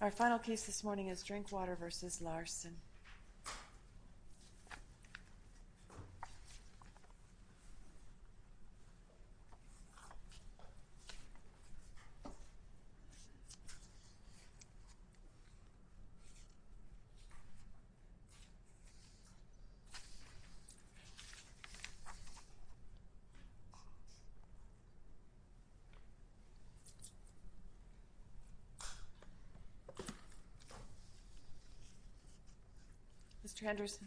Our final case this morning is Drinkwater v. Larson. Mr. Henderson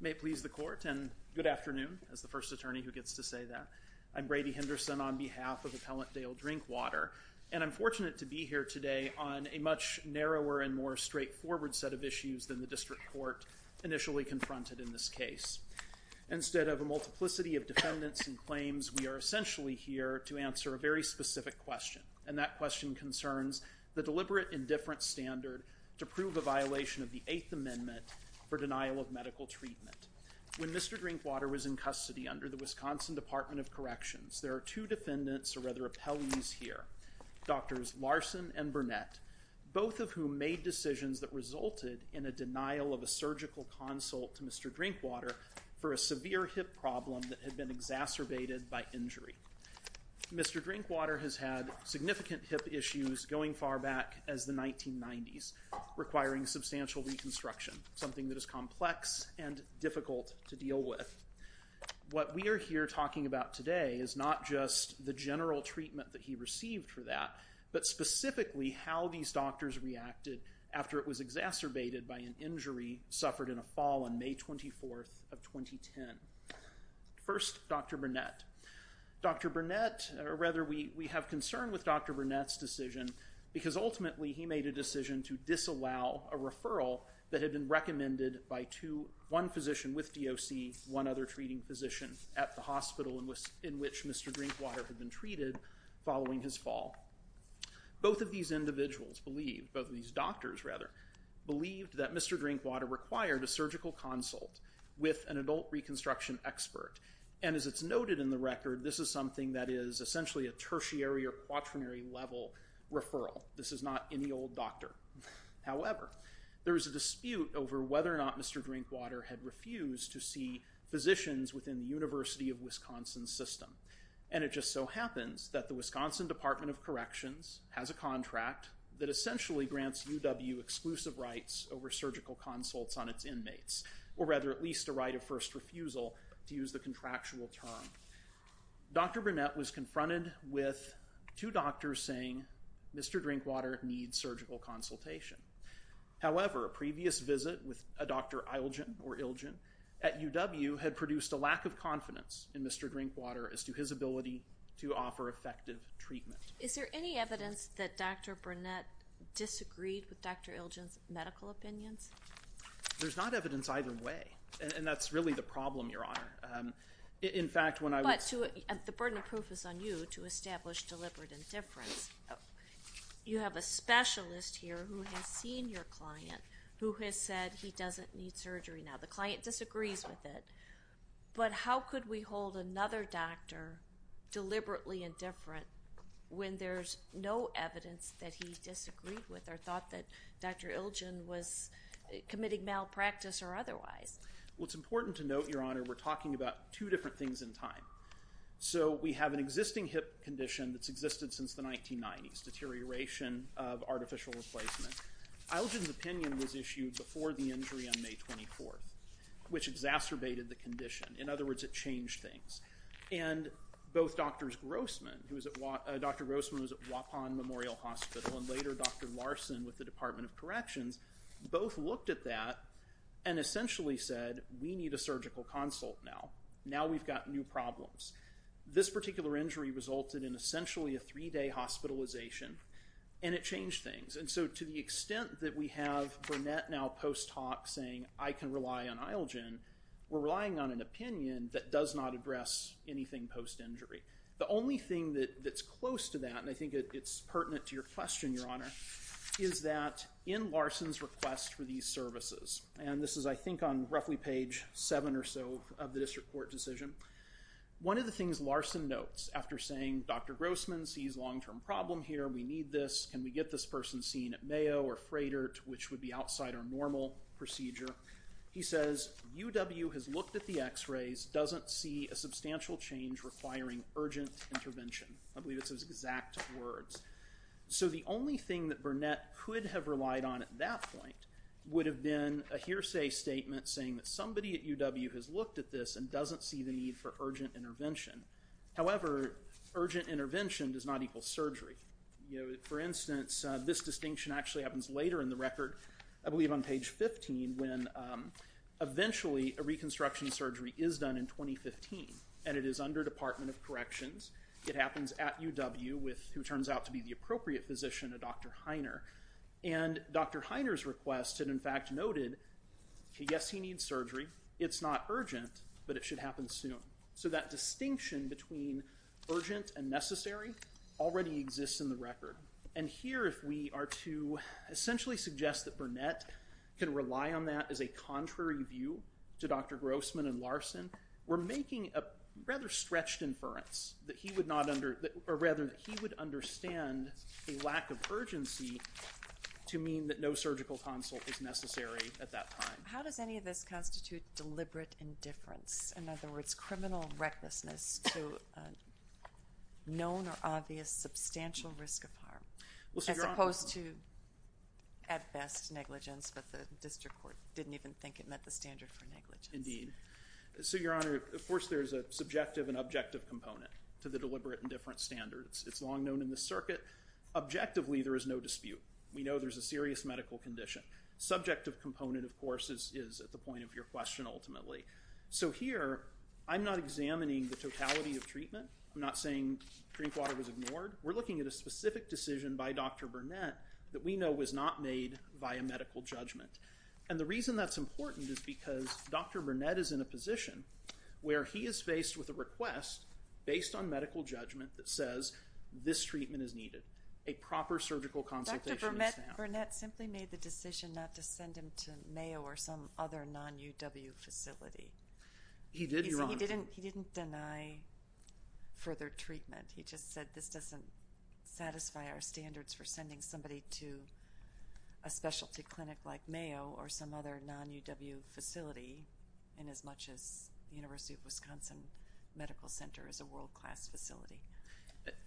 May it please the Court, and good afternoon as the first attorney who gets to say that. I'm Brady Henderson on behalf of Appellant Dale Drinkwater, and I'm fortunate to be here today on a much narrower and more straightforward set of issues than the District Court initially confronted in this case. Instead of a multiplicity of defendants and claims, we are essentially here to answer a very specific question, and that question concerns the deliberate indifference standard to prove a violation of the Eighth Amendment for denial of medical treatment. When Mr. Drinkwater was in custody under the Wisconsin Department of Corrections, there are two defendants, or rather, appellees here, Drs. Larson and Burnett, both of whom made decisions that resulted in a denial of a surgical consult to Mr. Drinkwater for a severe hip problem that had been exacerbated by injury. Mr. Drinkwater has had significant hip issues going far back as the 1990s, requiring substantial reconstruction, something that is complex and difficult to deal with. What we are here talking about today is not just the general treatment that he received for that, but specifically how these doctors reacted after it was exacerbated by an injury suffered in a fall on May 24th of 2010. First, Dr. Burnett. Dr. Burnett, or rather, we have concern with Dr. Burnett's decision because ultimately he made a decision to disallow a referral that had been recommended by one physician with DOC, one other treating physician at the hospital in which Mr. Drinkwater had been treated following his fall. Both of these individuals believed, both of these doctors rather, believed that Mr. Drinkwater required a surgical consult with an adult reconstruction expert. And as it's noted in the record, this is something that is essentially a tertiary or quaternary level referral. This is not any old doctor. However, there is a dispute over whether or not Mr. Drinkwater had refused to see physicians within the University of Wisconsin system. And it just so happens that the Wisconsin Department of Corrections has a contract that essentially grants UW exclusive rights over surgical consults on its inmates, or rather, at least a right of first refusal, to use the contractual term. Dr. Burnett was confronted with two doctors saying, Mr. Drinkwater needs surgical consultation. However, a previous visit with a Dr. Ilgen, or Ilgen, at UW had produced a lack of confidence in Mr. Drinkwater as to his ability to offer effective treatment. Is there any evidence that Dr. Burnett disagreed with Dr. Ilgen's medical opinions? There's not evidence either way. And that's really the problem, Your Honor. In fact, when I was... But the burden of proof is on you to establish deliberate indifference. You have a specialist here who has seen your client who has said he doesn't need surgery now. The client disagrees with it. But how could we hold another doctor deliberately indifferent when there's no evidence that he disagreed with or thought that Dr. Ilgen was committing malpractice or otherwise? Well, it's important to note, Your Honor, we're talking about two different things in time. So we have an existing hip condition that's existed since the 1990s, deterioration of artificial replacement. Ilgen's opinion was issued before the injury on May 24th, which exacerbated the condition. In other words, it changed things. And both Drs. Grossman, who was at... Dr. Grossman was at Waupun Memorial Hospital, and later Dr. Larson with the Department of Corrections, both looked at that and essentially said we need a surgical consult now. Now we've got new problems. This particular injury resulted in essentially a three-day hospitalization, and it changed things. And so to the extent that we have Burnett now post-talk saying I can rely on Ilgen, we're relying on an opinion that does not address anything post-injury. The only thing that's close to that, and I think it's pertinent to your question, Your Honor, is that in Larson's request for these services, and this is I think on roughly page seven or so of the district court decision, one of the things Larson notes after saying Dr. Grossman sees long-term problem here, we need this, can we get this person seen at Mayo or Fraydert, which would be outside our normal procedure, he says UW has looked at the x-rays, doesn't see a substantial change requiring urgent intervention. I believe it's his exact words. So the only thing that Burnett could have relied on at that point would have been a hearsay statement saying that somebody at UW has looked at this and doesn't see the need for urgent intervention. However, urgent intervention does not equal surgery. For instance, this distinction actually happens later in the record, I believe on page 15, when eventually a reconstruction surgery is done in 2015, and it is under Department of Corrections. It happens at UW with who turns out to be the appropriate physician, a Dr. Heiner. And Dr. Heiner's request had in fact noted yes, he needs surgery, it's not urgent, but it should happen soon. So that distinction between urgent and necessary already exists in the record. And here if we are to essentially suggest that Burnett can rely on that as a contrary view to Dr. Grossman and Larson, we're making a rather stretched inference that he would not under, or rather that he would understand a lack of urgency to mean that no surgical consult is necessary at that time. How does any of this constitute deliberate indifference? In other words, criminal recklessness to known or obvious substantial risk of harm, as opposed to, at best, negligence, but the district court didn't even think it met the standard for negligence. Indeed. So, Your Honor, of course there's a subjective and objective component to the deliberate indifference standards. It's long known in the circuit. Objectively, there is no dispute. We know there's a serious medical condition. Subjective component, of course, is at the point of your question ultimately. So here, I'm not examining the totality of treatment. I'm not saying drink water was ignored. We're looking at a specific decision by Dr. Burnett that we know was not made via medical judgment. And the reason that's important is because Dr. Burnett is in a position where he is faced with a request based on medical judgment that says this treatment is needed. A proper surgical consultation is found. Dr. Burnett simply made the decision not to send him to Mayo or some other non-UW facility. He did, Your Honor. He didn't deny further treatment. He just said this doesn't satisfy our standards for sending somebody to a specialty clinic like Mayo or some other non-UW facility in as much as the University of Wisconsin Medical Center is a world-class facility.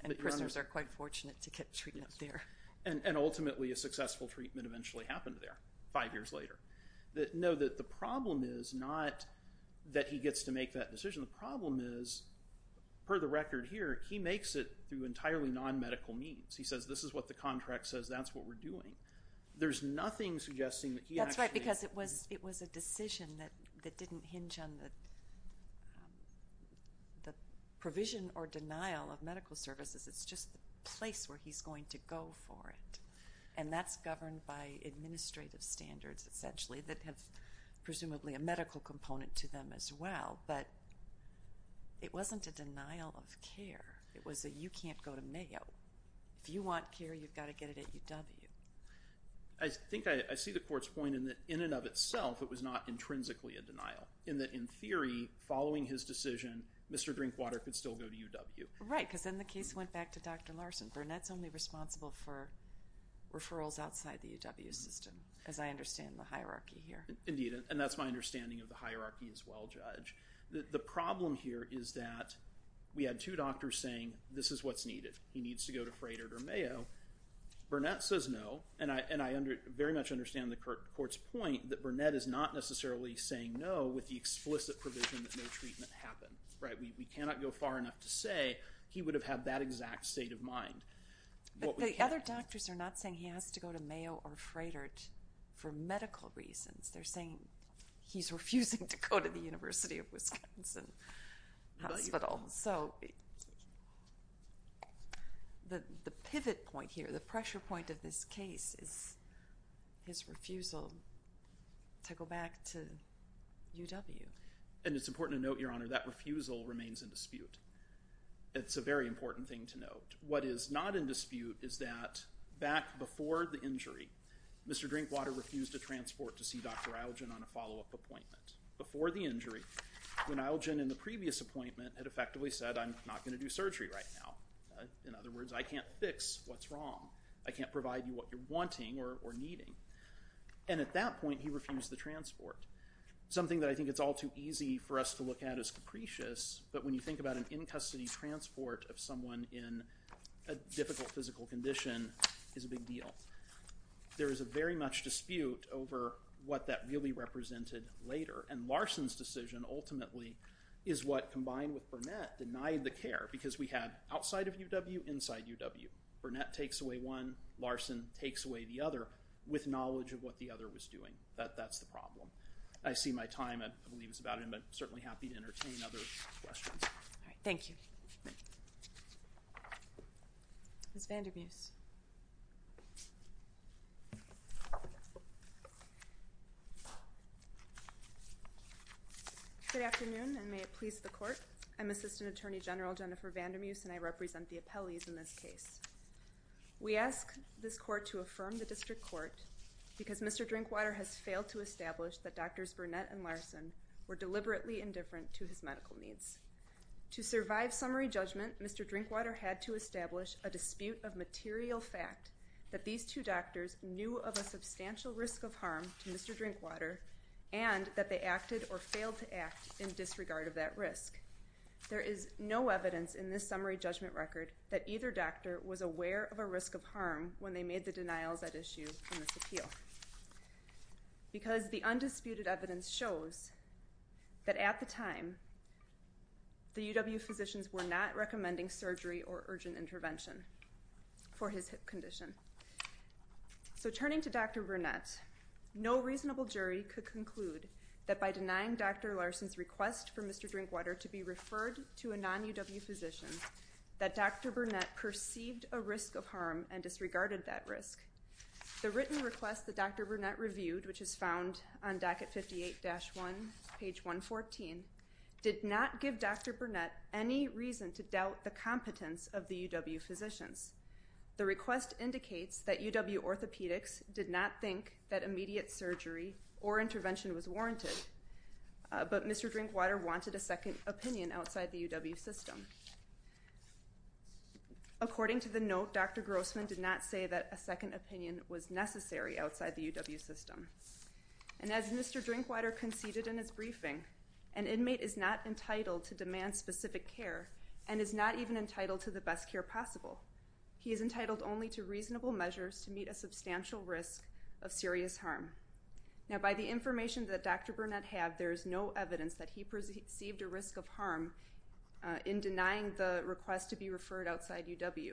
And prisoners are quite fortunate to get treatment there. Yes. And ultimately, a successful treatment eventually happened there five years later. No, the problem is not that he gets to make that decision. The problem is, per the record here, he makes it through entirely non-medical means. He says this is what the contract says. That's what we're doing. There's nothing suggesting that he actually— The provision or denial of medical services is just the place where he's going to go for it. And that's governed by administrative standards, essentially, that have presumably a medical component to them as well. But it wasn't a denial of care. It was a, you can't go to Mayo. If you want care, you've got to get it at UW. I think I see the Court's point in that, in and of itself, it was not intrinsically a denial. In that, in theory, following his decision, Mr. Drinkwater could still go to UW. Right, because then the case went back to Dr. Larson. Burnett's only responsible for referrals outside the UW system, as I understand the hierarchy here. Indeed. And that's my understanding of the hierarchy as well, Judge. The problem here is that we had two doctors saying, this is what's needed. He needs to go to Fraynert or Mayo. Burnett says no. And I very much understand the Court's point that Burnett is not necessarily saying no with the explicit provision that no treatment happened. We cannot go far enough to say he would have had that exact state of mind. But the other doctors are not saying he has to go to Mayo or Fraynert for medical reasons. They're saying he's refusing to go to the University of Wisconsin Hospital. So the pivot point here, the pressure point of this case, is his refusal to go back to UW. And it's important to note, Your Honor, that refusal remains in dispute. It's a very important thing to note. What is not in dispute is that back before the injury, Mr. Drinkwater refused to transport to see Dr. Algen on a follow-up appointment. Before the injury, when Algen, in the previous appointment, had effectively said, I'm not going to do surgery right now. In other words, I can't fix what's wrong. I can't provide you what you're wanting or needing. And at that point, he refused the transport. Something that I think it's all too easy for us to look at as capricious, but when you think about an in-custody transport of someone in a difficult physical condition is a big deal. There is a very much dispute over what that really represented later. And Larson's decision ultimately is what, combined with Burnett, denied the care. Because we had outside of UW, inside UW. Burnett takes away one, Larson takes away the other, with knowledge of what the other was doing. That's the problem. I see my time, I believe, is about to end, but I'm certainly happy to entertain other questions. All right, thank you. Ms. Vandermeuse. Good afternoon, and may it please the Court. I'm Assistant Attorney General Jennifer Vandermeuse, and I represent the appellees in this case. We ask this Court to affirm the District Court because Mr. Drinkwater has failed to establish that Drs. Burnett and Larson were deliberately indifferent to his medical needs. To survive summary judgment, Mr. Drinkwater had to establish a dispute of material fact that these two doctors knew of a substantial risk of harm to Mr. Drinkwater and that they acted or failed to act in disregard of that risk. There is no evidence in this summary judgment record that either doctor was aware of a risk of harm when they made the denials at issue in this appeal. Because the undisputed evidence shows that at the time, the UW physicians were not recommending surgery or urgent intervention for his hip condition. So turning to Dr. Burnett, no reasonable jury could conclude that by denying Dr. Larson's request for Mr. Drinkwater to be referred to a non-UW physician, that Dr. Burnett perceived a risk of harm and disregarded that risk. The written request that Dr. Burnett reviewed, which is found on docket 58-1, page 114, did not give Dr. Burnett any reason to doubt the competence of the UW physicians. The request indicates that UW orthopedics did not think that immediate surgery or intervention was warranted, but Mr. Drinkwater wanted a second opinion outside the UW system. According to the note, Dr. Grossman did not say that a second opinion was necessary outside the UW system. And as Mr. Drinkwater conceded in his briefing, an inmate is not entitled to demand specific care and is not even entitled to the best care possible. He is entitled only to reasonable measures to meet a substantial risk of serious harm. Now by the information that Dr. Burnett had, there is no evidence that he perceived a risk of harm in denying the request to be referred outside UW.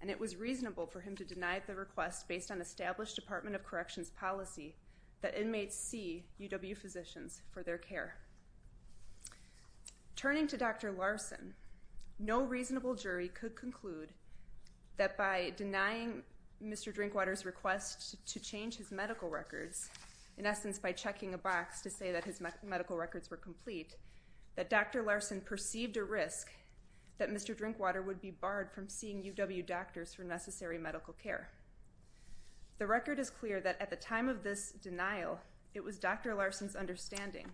And it was reasonable for him to deny the request based on established Department of Corrections policy that inmates see UW physicians for their care. Turning to Dr. Larson, no reasonable jury could conclude that by denying Mr. Drinkwater's request to change his medical records, in essence by checking a box to say that his medical records were complete, that Dr. Larson perceived a risk that Mr. Drinkwater would be barred from seeing UW doctors for necessary medical care. The record is clear that at the time of this denial, it was Dr. Larson's understanding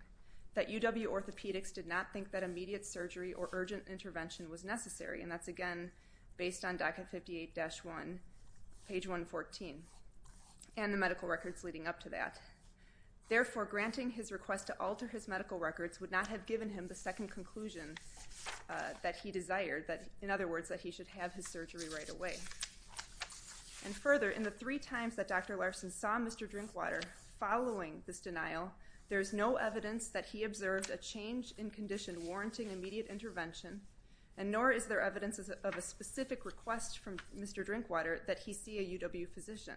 that UW orthopedics did not think that immediate surgery or urgent intervention was necessary, and that's again based on docket 58-1, page 114, and the medical records leading up to that. Therefore, granting his request to alter his medical records would not have given him the second conclusion that he desired, in other words that he should have his surgery right away. And further, in the three times that Dr. Larson saw Mr. Drinkwater following this denial, there is no evidence that he observed a change in condition warranting immediate intervention, and nor is there evidence of a specific request from Mr. Drinkwater that he see a UW physician.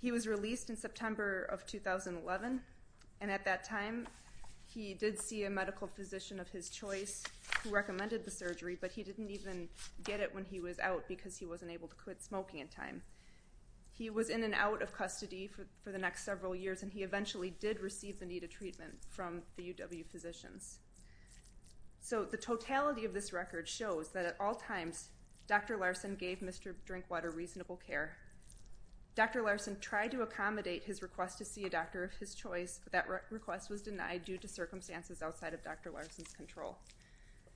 He was released in September of 2011, and at that time he did see a medical physician of his choice who recommended the surgery, but he didn't even get it when he was out because he wasn't able to quit smoking in time. He was in and out of custody for the next several years, and he eventually did receive the needed treatment from the UW physicians. So the totality of this record shows that at all times Dr. Larson gave Mr. Drinkwater reasonable care. Dr. Larson tried to accommodate his request to see a doctor of his choice, but that request was denied due to circumstances outside of Dr. Larson's control.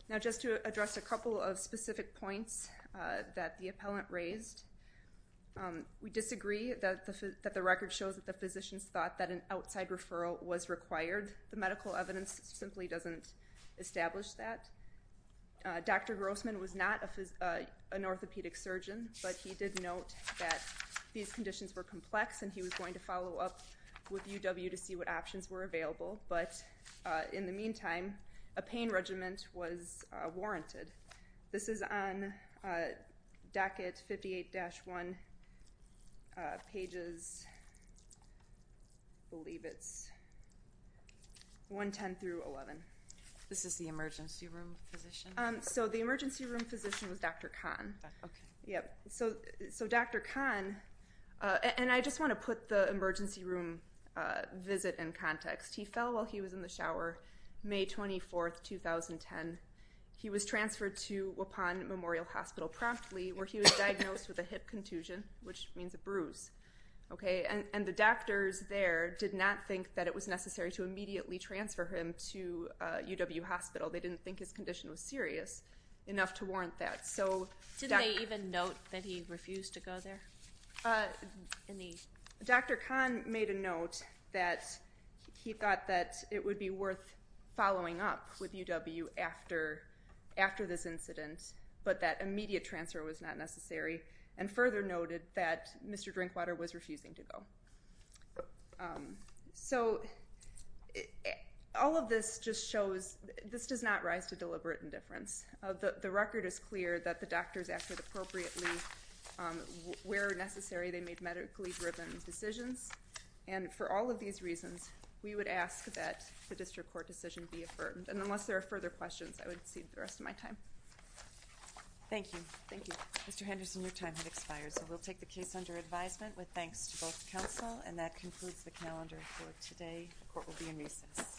Now just to address a couple of specific points that the appellant raised, we disagree that the record shows that the physicians thought that an outside referral was required. The medical evidence simply doesn't establish that. Dr. Grossman was not an orthopedic surgeon, but he did note that these conditions were complex, and he was going to follow up with UW to see what options were available. But in the meantime, a pain regimen was warranted. This is on docket 58-1, pages, I believe it's 110 through 11. This is the emergency room physician? So the emergency room physician was Dr. Kahn. Okay. So Dr. Kahn, and I just want to put the emergency room visit in context. He fell while he was in the shower May 24, 2010. He was transferred to Waupon Memorial Hospital promptly, where he was diagnosed with a hip contusion, which means a bruise. And the doctors there did not think that it was necessary to immediately transfer him to UW Hospital. They didn't think his condition was serious enough to warrant that. Did they even note that he refused to go there? Dr. Kahn made a note that he thought that it would be worth following up with UW after this incident, but that immediate transfer was not necessary, and further noted that Mr. Drinkwater was refusing to go. So all of this just shows this does not rise to deliberate indifference. The record is clear that the doctors acted appropriately where necessary. They made medically driven decisions. And for all of these reasons, we would ask that the district court decision be affirmed. And unless there are further questions, I would cede the rest of my time. Thank you. Thank you. Mr. Henderson, your time has expired, so we'll take the case under advisement with thanks to both counsel. And that concludes the calendar for today. The court will be in recess. Thank you. Thank you.